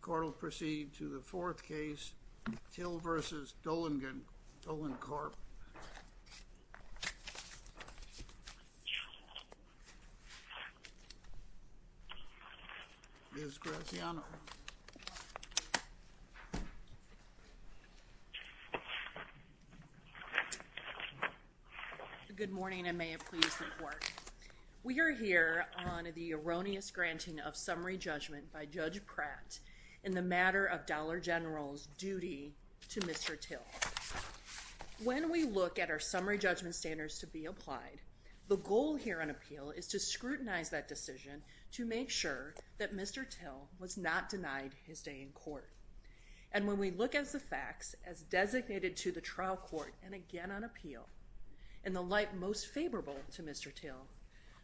Court will proceed to the fourth case, Till v. Dolgencorp. Ms. Graziano. Good morning, and may it please the Court. We are here on the erroneous granting of summary judgment by Judge Pratt in the matter of Dollar General's duty to Mr. Till. When we look at our summary judgment standards to be applied, the goal here on appeal is to scrutinize that decision to make sure that Mr. Till was not denied his day in court. And when we look at the facts as designated to the trial court and again on appeal, in the light most favorable to Mr. Till,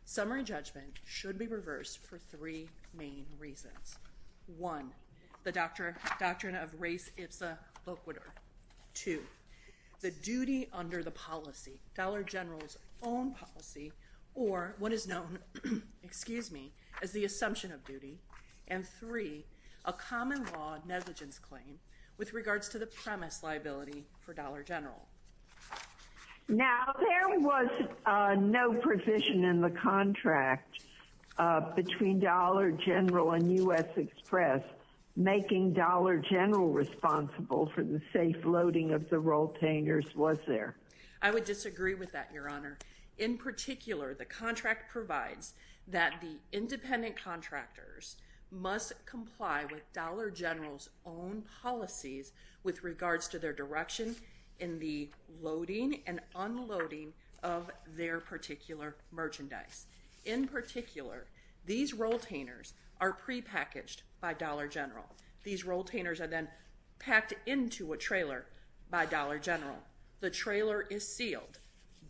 summary judgment should be reversed for three main reasons. One, the doctrine of res ipsa loquitur. Two, the duty under the policy, Dollar General's own policy, or what is known, excuse me, as the assumption of duty. And three, a common law negligence claim with regards to the premise liability for Dollar General. Now, there was no provision in the contract between Dollar General and U.S. Express making Dollar General responsible for the safe loading of the roll painters, was there? I would disagree with that, Your Honor. In particular, the contract provides that the independent contractors must comply with Dollar General's own policies with regards to their direction in the loading and unloading of their particular merchandise. In particular, these roll painters are prepackaged by Dollar General. These roll painters are then packed into a trailer by Dollar General. The trailer is sealed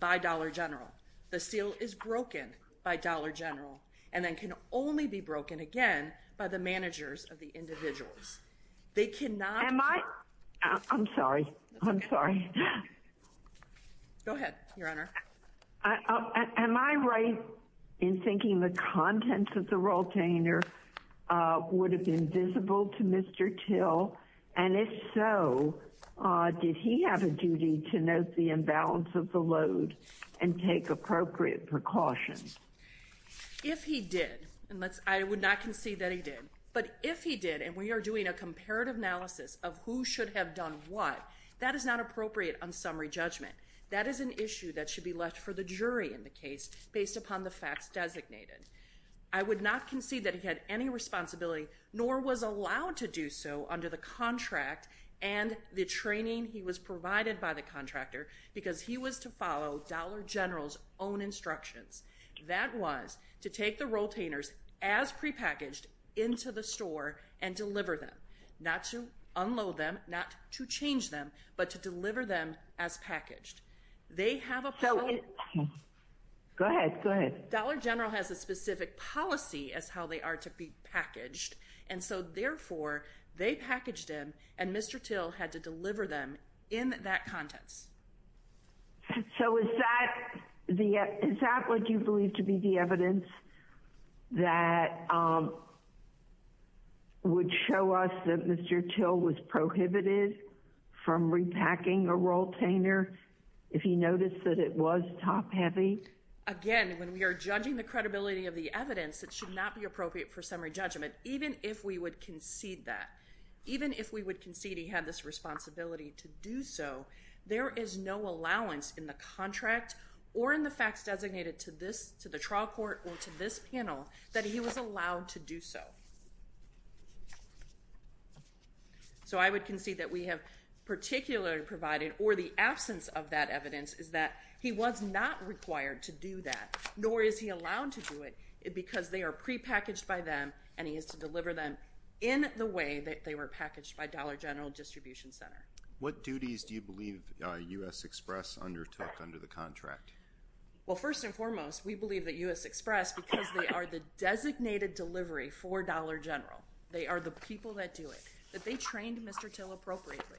by Dollar General. The seal is broken by Dollar General and then can only be broken again by the managers of the individuals. They cannot... Am I... I'm sorry. I'm sorry. Go ahead, Your Honor. Am I right in thinking the contents of the roll painter would have been visible to Mr. Till? And if so, did he have a duty to note the imbalance of the load and take appropriate precautions? If he did, and I would not concede that he did, but if he did, and we are doing a comparative analysis of who should have done what, that is not appropriate on summary judgment. That is an issue that should be left for the jury in the case based upon the facts designated. I would not concede that he had any responsibility nor was allowed to do so under the contract and the training he was provided by the contractor because he was to follow Dollar General's own instructions. That was to take the roll painters as prepackaged into the store and deliver them. Not to unload them, not to change them, but to deliver them as packaged. They have a... Go ahead. Go ahead. Dollar General has a specific policy as how they are to be packaged. And so, therefore, they packaged them and Mr. Till had to deliver them in that contents. So, is that what you believe to be the evidence that would show us that Mr. Till was prohibited from repacking a roll painter if he noticed that it was top heavy? Again, when we are judging the credibility of the evidence, it should not be appropriate for summary judgment, even if we would concede that. Even if we would concede he had this responsibility to do so, there is no allowance in the contract or in the facts designated to the trial court or to this panel that he was allowed to do so. So, I would concede that we have particularly provided or the absence of that evidence is that he was not required to do that. Nor is he allowed to do it because they are prepackaged by them and he has to deliver them in the way that they were packaged by Dollar General Distribution Center. What duties do you believe U.S. Express undertook under the contract? Well, first and foremost, we believe that U.S. Express, because they are the designated delivery for Dollar General, they are the people that do it, that they trained Mr. Till appropriately.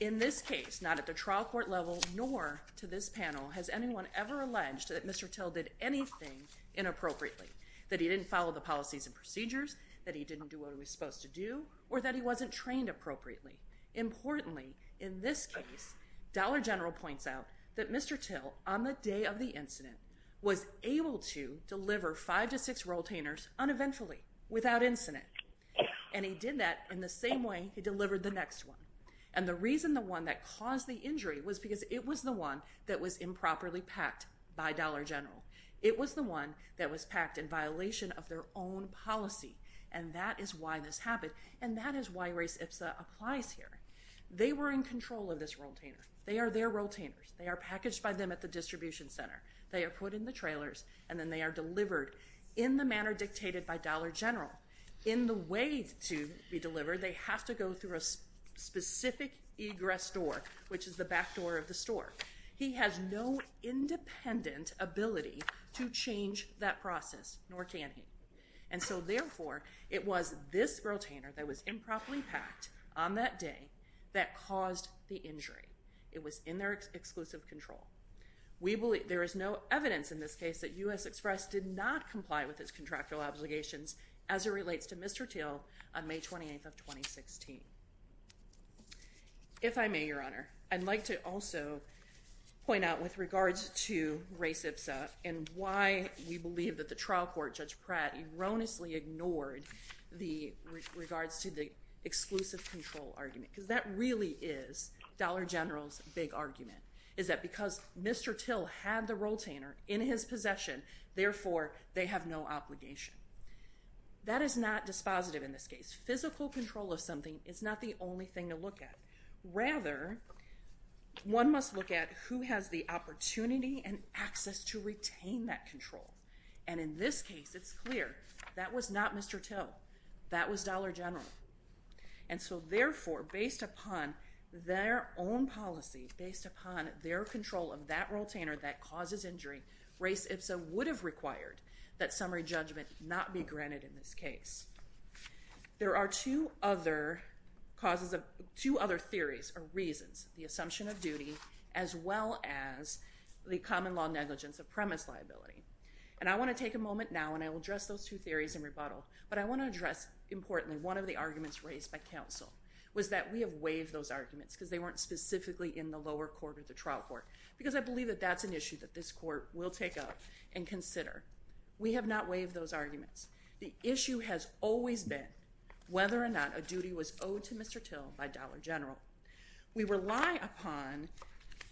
In this case, not at the trial court level nor to this panel, has anyone ever alleged that Mr. Till did anything inappropriately? That he didn't follow the policies and procedures, that he didn't do what he was supposed to do, or that he wasn't trained appropriately? Importantly, in this case, Dollar General points out that Mr. Till, on the day of the incident, was able to deliver five to six roll painters uneventfully, without incident. And he did that in the same way he delivered the next one. And the reason the one that caused the injury was because it was the one that was improperly packed by Dollar General. It was the one that was packed in violation of their own policy. And that is why this happened and that is why Race Ipsa applies here. They were in control of this roll tainter. They are their roll tainters. They are packaged by them at the distribution center. They are put in the trailers and then they are delivered in the manner dictated by Dollar General. In the way to be delivered, they have to go through a specific egress door, which is the back door of the store. He has no independent ability to change that process, nor can he. And so therefore, it was this roll tainter that was improperly packed on that day that caused the injury. It was in their exclusive control. There is no evidence in this case that U.S. Express did not comply with its contractual obligations as it relates to Mr. Teal on May 28th of 2016. If I may, Your Honor, I'd like to also point out with regards to Race Ipsa and why we believe that the trial court, Judge Pratt, erroneously ignored the regards to the exclusive control argument. Because that really is Dollar General's big argument, is that because Mr. Teal had the roll tainter in his possession, therefore they have no obligation. That is not dispositive in this case. Physical control of something is not the only thing to look at. Rather, one must look at who has the opportunity and access to retain that control. And in this case, it's clear that was not Mr. Teal. That was Dollar General. And so therefore, based upon their own policy, based upon their control of that roll tainter that causes injury, Race Ipsa would have required that summary judgment not be granted in this case. There are two other theories or reasons, the assumption of duty as well as the common law negligence of premise liability. And I want to take a moment now and I will address those two theories in rebuttal. But I want to address, importantly, one of the arguments raised by counsel was that we have waived those arguments because they weren't specifically in the lower court or the trial court. Because I believe that that's an issue that this court will take up and consider. We have not waived those arguments. The issue has always been whether or not a duty was owed to Mr. Teal by Dollar General. We rely upon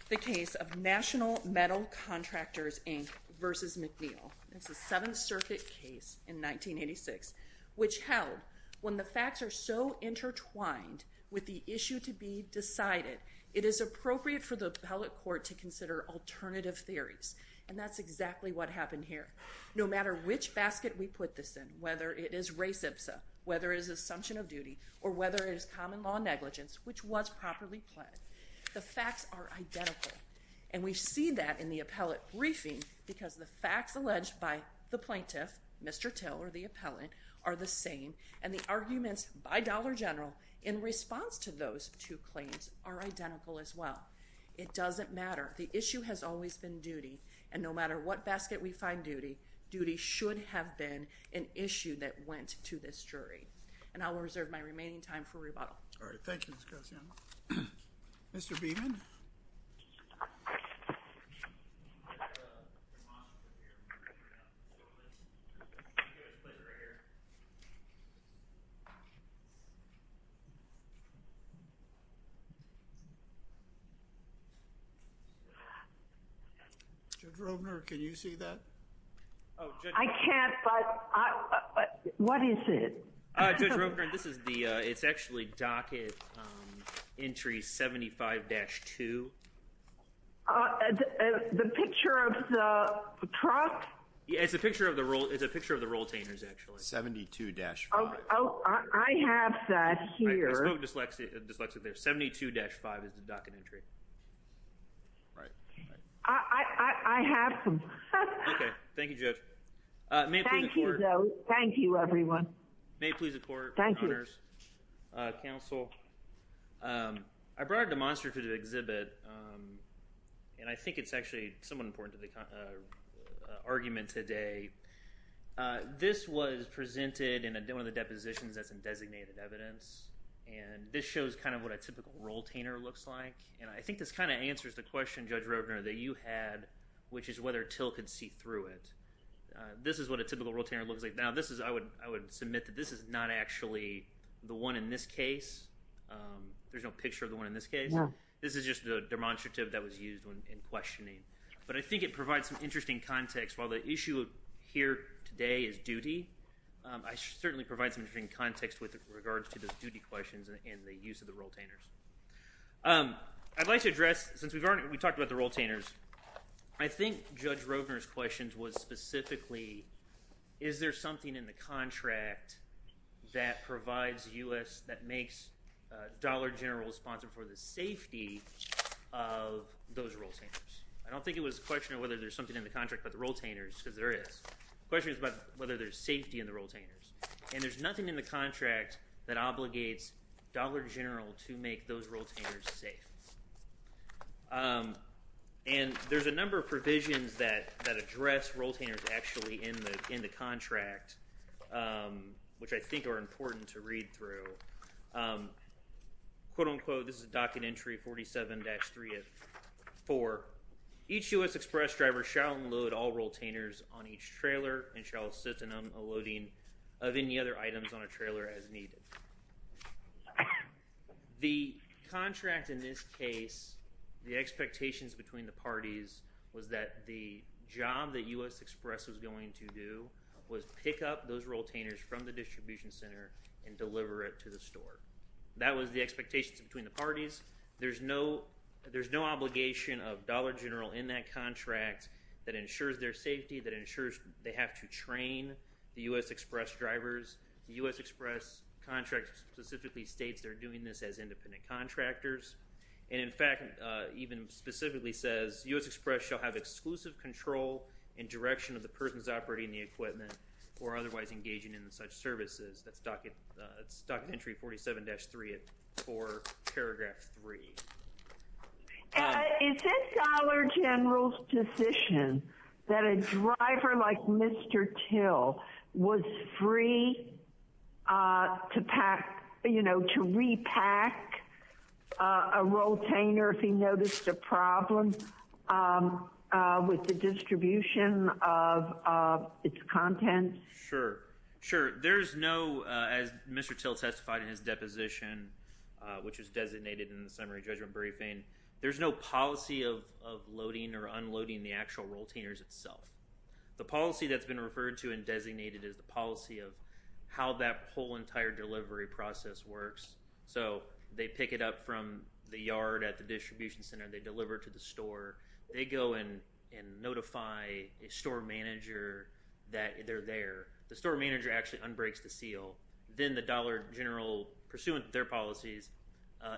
the case of National Metal Contractors, Inc. v. McNeil. It's a Seventh Circuit case in 1986, which held when the facts are so intertwined with the issue to be decided, it is appropriate for the appellate court to consider alternative theories. And that's exactly what happened here. No matter which basket we put this in, whether it is res ipsa, whether it is assumption of duty, or whether it is common law negligence, which was properly pledged, the facts are identical. And we see that in the appellate briefing because the facts alleged by the plaintiff, Mr. Teal or the appellant, are the same. And the arguments by Dollar General in response to those two claims are identical as well. It doesn't matter. The issue has always been duty. And no matter what basket we find duty, duty should have been an issue that went to this jury. And I will reserve my remaining time for rebuttal. All right. Thank you, Ms. Garcia. Mr. Beaman? Judge Robner, can you see that? I can't, but what is it? Judge Robner, this is the, it's actually docket entry 75-2. The picture of the truck? Yeah, it's a picture of the roll, it's a picture of the roll tainers, actually. 72-5. Oh, I have that here. I spoke dyslexic there. 72-5 is the docket entry. Right. I have some. Okay. Thank you, Judge. Thank you, though. Thank you, everyone. May it please the court, your honors. Thank you. Counsel, I brought a demonstrative exhibit, and I think it's actually somewhat important to the argument today. This was presented in one of the depositions that's in designated evidence. And this shows kind of what a typical roll tainer looks like. And I think this kind of answers the question, Judge Robner, that you had, which is whether Till could see through it. This is what a typical roll tainer looks like. Now, this is, I would submit that this is not actually the one in this case. There's no picture of the one in this case. This is just a demonstrative that was used in questioning. But I think it provides some interesting context. While the issue here today is duty, I certainly provide some interesting context with regards to those duty questions and the use of the roll tainers. I'd like to address, since we've talked about the roll tainers, I think Judge Robner's question was specifically, is there something in the contract that provides U.S., that makes Dollar General responsible for the safety of those roll tainers? I don't think it was a question of whether there's something in the contract about the roll tainers, because there is. The question is about whether there's safety in the roll tainers. And there's nothing in the contract that obligates Dollar General to make those roll tainers safe. And there's a number of provisions that address roll tainers actually in the contract, which I think are important to read through. Quote-unquote, this is a docket entry 47-3-4. Each U.S. Express driver shall unload all roll tainers on each trailer and shall assist in unloading of any other items on a trailer as needed. The contract in this case, the expectations between the parties was that the job that U.S. Express was going to do was pick up those roll tainers from the distribution center and deliver it to the store. That was the expectations between the parties. There's no obligation of Dollar General in that contract that ensures their safety, that ensures they have to train the U.S. Express drivers. The U.S. Express contract specifically states they're doing this as independent contractors. And in fact, even specifically says U.S. Express shall have exclusive control and direction of the persons operating the equipment or otherwise engaging in such services. That's docket entry 47-3-4, paragraph 3. Is this Dollar General's decision that a driver like Mr. Till was free to pack, you know, to repack a roll tainer if he noticed a problem with the distribution of its contents? Sure, sure. There's no, as Mr. Till testified in his deposition, which was designated in the summary judgment briefing, there's no policy of loading or unloading the actual roll tainers itself. The policy that's been referred to and designated is the policy of how that whole entire delivery process works. So they pick it up from the yard at the distribution center, they deliver it to the store, they go and notify a store manager that they're there. The store manager actually unbreaks the seal. Then the Dollar General, pursuant to their policies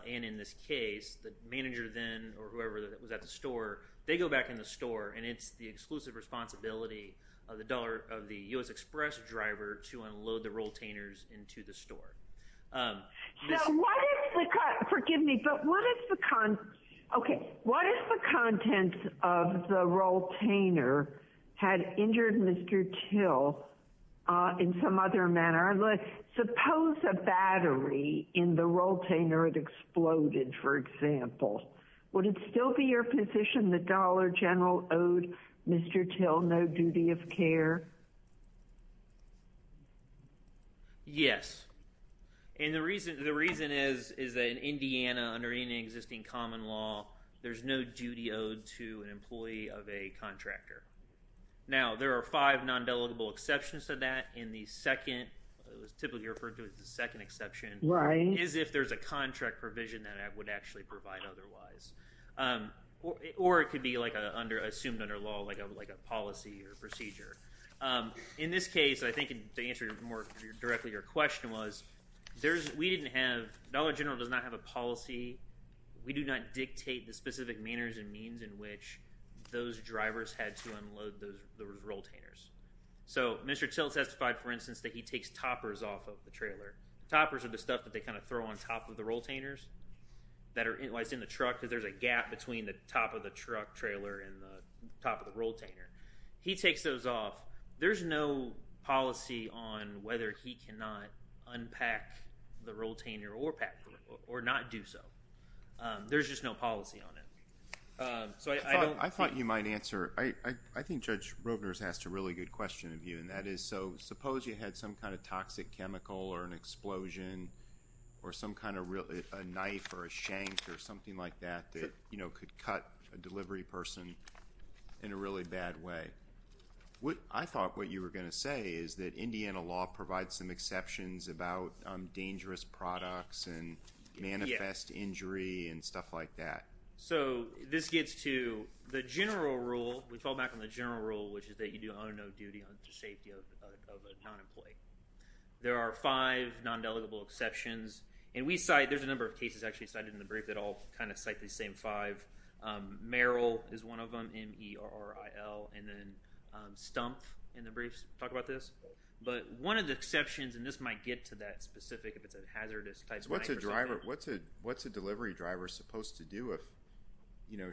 and in this case, the manager then or whoever was at the store, they go back in the store and it's the exclusive responsibility of the U.S. Express driver to unload the roll tainers into the store. So what is the, forgive me, but what is the, okay, what is the contents of the roll tainer had injured Mr. Till in some other manner? Suppose a battery in the roll tainer had exploded, for example. Would it still be your position that Dollar General owed Mr. Till no duty of care? Yes. And the reason is that in Indiana, under any existing common law, there's no duty owed to an employee of a contractor. Now, there are five non-delegable exceptions to that. And the second, it was typically referred to as the second exception, is if there's a contract provision that would actually provide otherwise. Or it could be assumed under law like a policy or procedure. In this case, I think to answer more directly your question was, there's, we didn't have, Dollar General does not have a policy. We do not dictate the specific manners and means in which those drivers had to unload those roll tainers. So Mr. Till testified, for instance, that he takes toppers off of the trailer. Toppers are the stuff that they kind of throw on top of the roll tainers that are in the truck because there's a gap between the top of the truck trailer and the top of the roll tainer. He takes those off. There's no policy on whether he cannot unpack the roll tainer or not do so. There's just no policy on it. I thought you might answer, I think Judge Rovner's asked a really good question of you, and that is, so suppose you had some kind of toxic chemical or an explosion or some kind of real, a knife or a shank or something like that that could cut a delivery person in a really bad way. I thought what you were going to say is that Indiana law provides some exceptions about dangerous products and manifest injury and stuff like that. So this gets to the general rule. We fall back on the general rule, which is that you do no duty on the safety of a non-employee. There are five non-delegable exceptions. And we cite, there's a number of cases actually cited in the brief that all kind of cite these same five. Merrill is one of them, M-E-R-R-I-L, and then Stumpf in the briefs talk about this. But one of the exceptions, and this might get to that specific if it's a hazardous type of knife or something. What's a delivery driver supposed to do if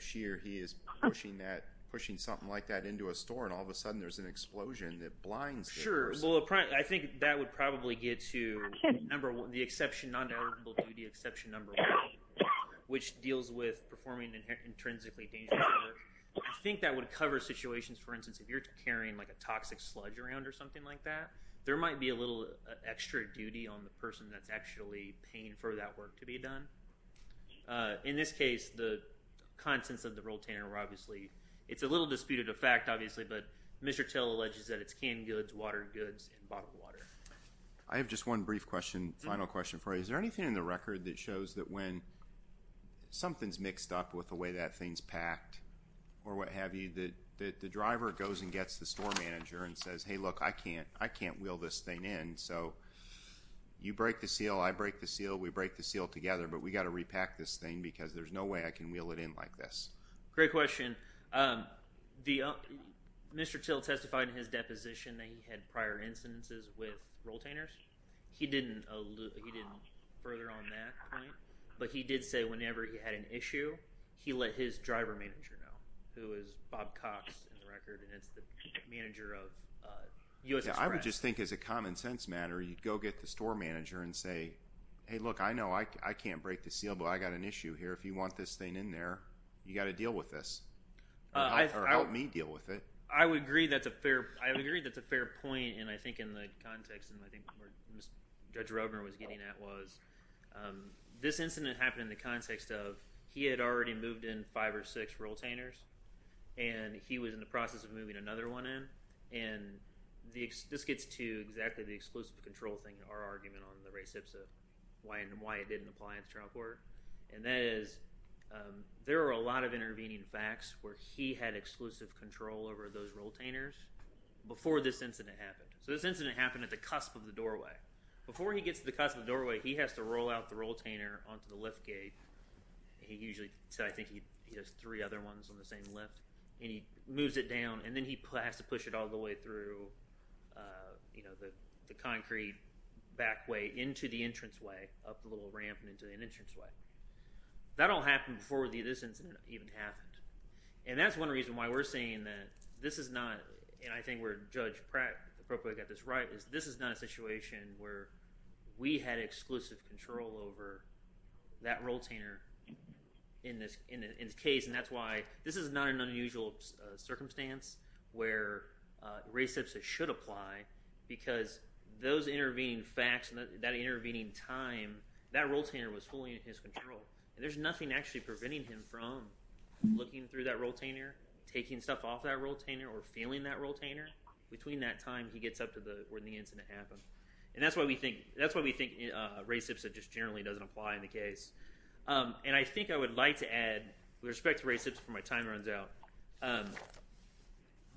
she or he is pushing something like that into a store and all of a sudden there's an explosion that blinds the person? I think that would probably get to the exception, non-delegable duty exception number one, which deals with performing intrinsically dangerous work. I think that would cover situations, for instance, if you're carrying a toxic sludge around or something like that. There might be a little extra duty on the person that's actually paying for that work to be done. In this case, the contents of the roll tanner were obviously, it's a little disputed a fact, obviously, but Mr. Till alleges that it's canned goods, watered goods, and bottled water. I have just one brief question, final question for you. Is there anything in the record that shows that when something's mixed up with the way that thing's packed or what have you, that the driver goes and gets the store manager and says, hey, look, I can't wheel this thing in. So you break the seal, I break the seal, we break the seal together, but we've got to repack this thing because there's no way I can wheel it in like this. Great question. Mr. Till testified in his deposition that he had prior incidences with roll tanners. He didn't further on that point, but he did say whenever he had an issue, he let his driver manager know, who is Bob Cox in the record, and it's the manager of U.S. Express. I would just think as a common sense matter, you'd go get the store manager and say, hey, look, I know I can't break the seal, but I've got an issue here. If you want this thing in there, you've got to deal with this, or help me deal with it. I would agree that's a fair point, and I think in the context, and I think where Judge Robner was getting at was, this incident happened in the context of he had already moved in five or six roll tanners, and he was in the process of moving another one in, and this gets to exactly the exclusive control thing, our argument on the Ray-Cipsa, why it didn't apply in the trial court. And that is, there are a lot of intervening facts where he had exclusive control over those roll tanners before this incident happened. So this incident happened at the cusp of the doorway. Before he gets to the cusp of the doorway, he has to roll out the roll tanner onto the lift gate. He usually, I think he has three other ones on the same lift. And he moves it down, and then he has to push it all the way through the concrete back way into the entranceway, up the little ramp into the entranceway. That all happened before this incident even happened. And that's one reason why we're saying that this is not, and I think where Judge Pratt appropriately got this right, is this is not a situation where we had exclusive control over that roll tanner in this case, and that's why this is not an unusual circumstance where Ray-Cipsa should apply, because those intervening facts and that intervening time, that roll tanner was fully in his control. And there's nothing actually preventing him from looking through that roll tanner, taking stuff off that roll tanner, or feeling that roll tanner. Between that time, he gets up to where the incident happened. And that's why we think Ray-Cipsa just generally doesn't apply in the case. And I think I would like to add, with respect to Ray-Cipsa before my time runs out,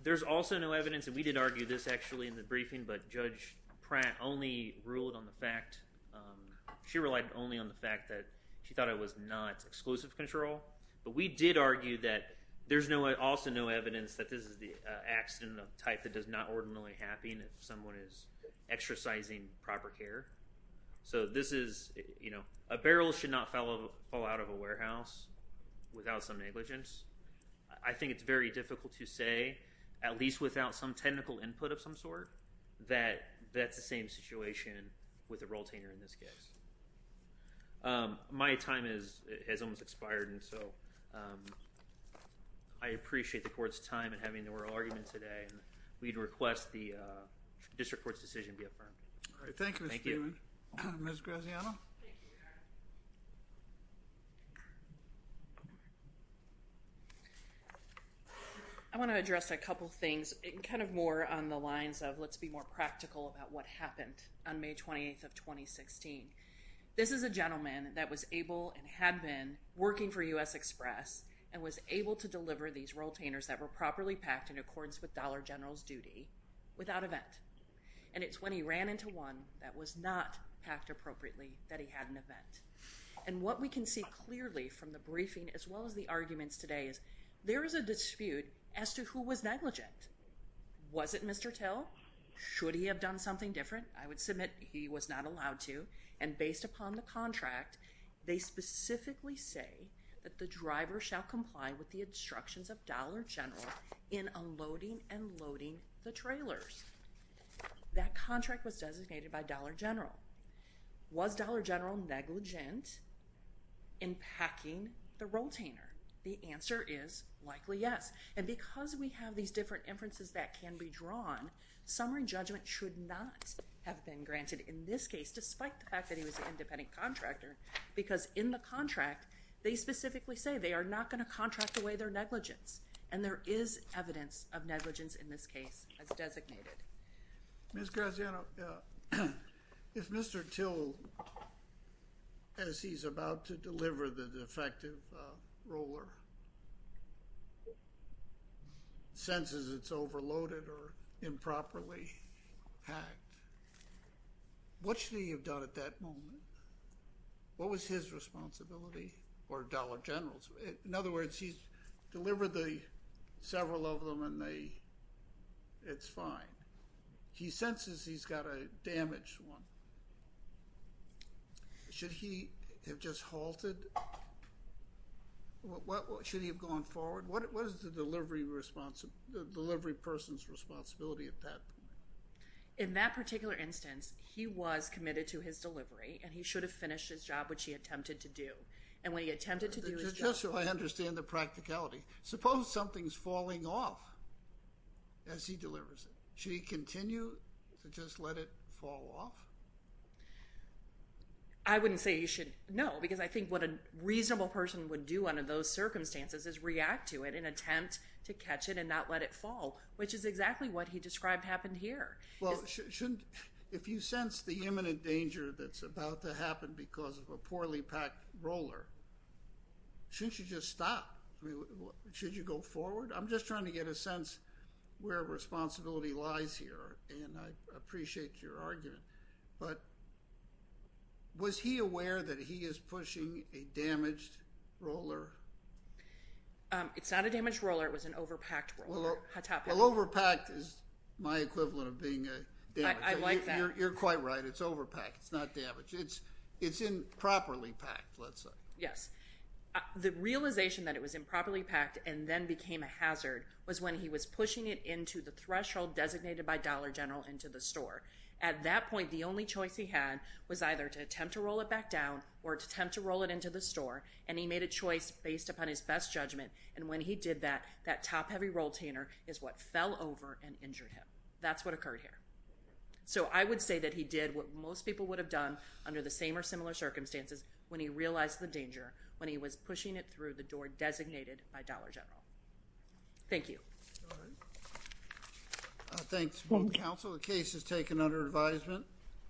there's also no evidence, and we did argue this actually in the briefing, but Judge Pratt only ruled on the fact, she relied only on the fact that she thought it was not exclusive control. But we did argue that there's also no evidence that this is the accident of type that does not ordinarily happen if someone is exercising proper care. So this is, you know, a barrel should not fall out of a warehouse without some negligence. I think it's very difficult to say, at least without some technical input of some sort, that that's the same situation with a roll tanner in this case. My time has almost expired, and so I appreciate the court's time in having the oral argument today. We'd request the district court's decision be affirmed. Thank you, Mr. Newman. Ms. Graziano? I want to address a couple things, kind of more on the lines of, let's be more practical about what happened on May 28th of 2016. This is a gentleman that was able and had been working for U.S. Express and was able to deliver these roll tanners that were properly packed in accordance with Dollar General's duty without event. And it's when he ran into one that was not packed appropriately that he had an event. And what we can see clearly from the briefing, as well as the arguments today, is there is a dispute as to who was negligent. Was it Mr. Till? Should he have done something different? I would submit he was not allowed to, and based upon the contract, they specifically say that the driver shall comply with the instructions of Dollar General in unloading and loading the trailers. That contract was designated by Dollar General. Was Dollar General negligent in packing the roll tanner? The answer is likely yes. And because we have these different inferences that can be drawn, summary judgment should not have been granted in this case, despite the fact that he was an independent contractor, because in the contract, they specifically say they are not going to contract away their negligence. And there is evidence of negligence in this case as designated. Ms. Graziano, if Mr. Till, as he's about to deliver the defective roller, senses it's overloaded or improperly packed, what should he have done at that moment? What was his responsibility, or Dollar General's? In other words, he's delivered the several of them, and it's fine. He senses he's got a damaged one. Should he have just halted? Should he have gone forward? What was the delivery person's responsibility at that point? In that particular instance, he was committed to his delivery, and he should have finished his job, which he attempted to do. Just so I understand the practicality, suppose something's falling off as he delivers it. Should he continue to just let it fall off? I wouldn't say you should know, because I think what a reasonable person would do under those circumstances is react to it and attempt to catch it and not let it fall, which is exactly what he described happened here. Well, if you sense the imminent danger that's about to happen because of a poorly packed roller, shouldn't you just stop? Should you go forward? I'm just trying to get a sense where responsibility lies here, and I appreciate your argument, but was he aware that he is pushing a damaged roller? It's not a damaged roller. It was an overpacked roller. Well, overpacked is my equivalent of being damaged. I like that. You're quite right. It's overpacked. It's not damaged. It's improperly packed, let's say. Yes. The realization that it was improperly packed and then became a hazard was when he was pushing it into the threshold designated by Dollar General into the store. At that point, the only choice he had was either to attempt to roll it back down or to attempt to roll it into the store, and he made a choice based upon his best judgment, and when he did that, that top-heavy roll tainter is what fell over and injured him. That's what occurred here. So I would say that he did what most people would have done under the same or similar circumstances when he realized the danger, when he was pushing it through the door designated by Dollar General. Thank you. Thanks. Counsel, the case is taken under advisement.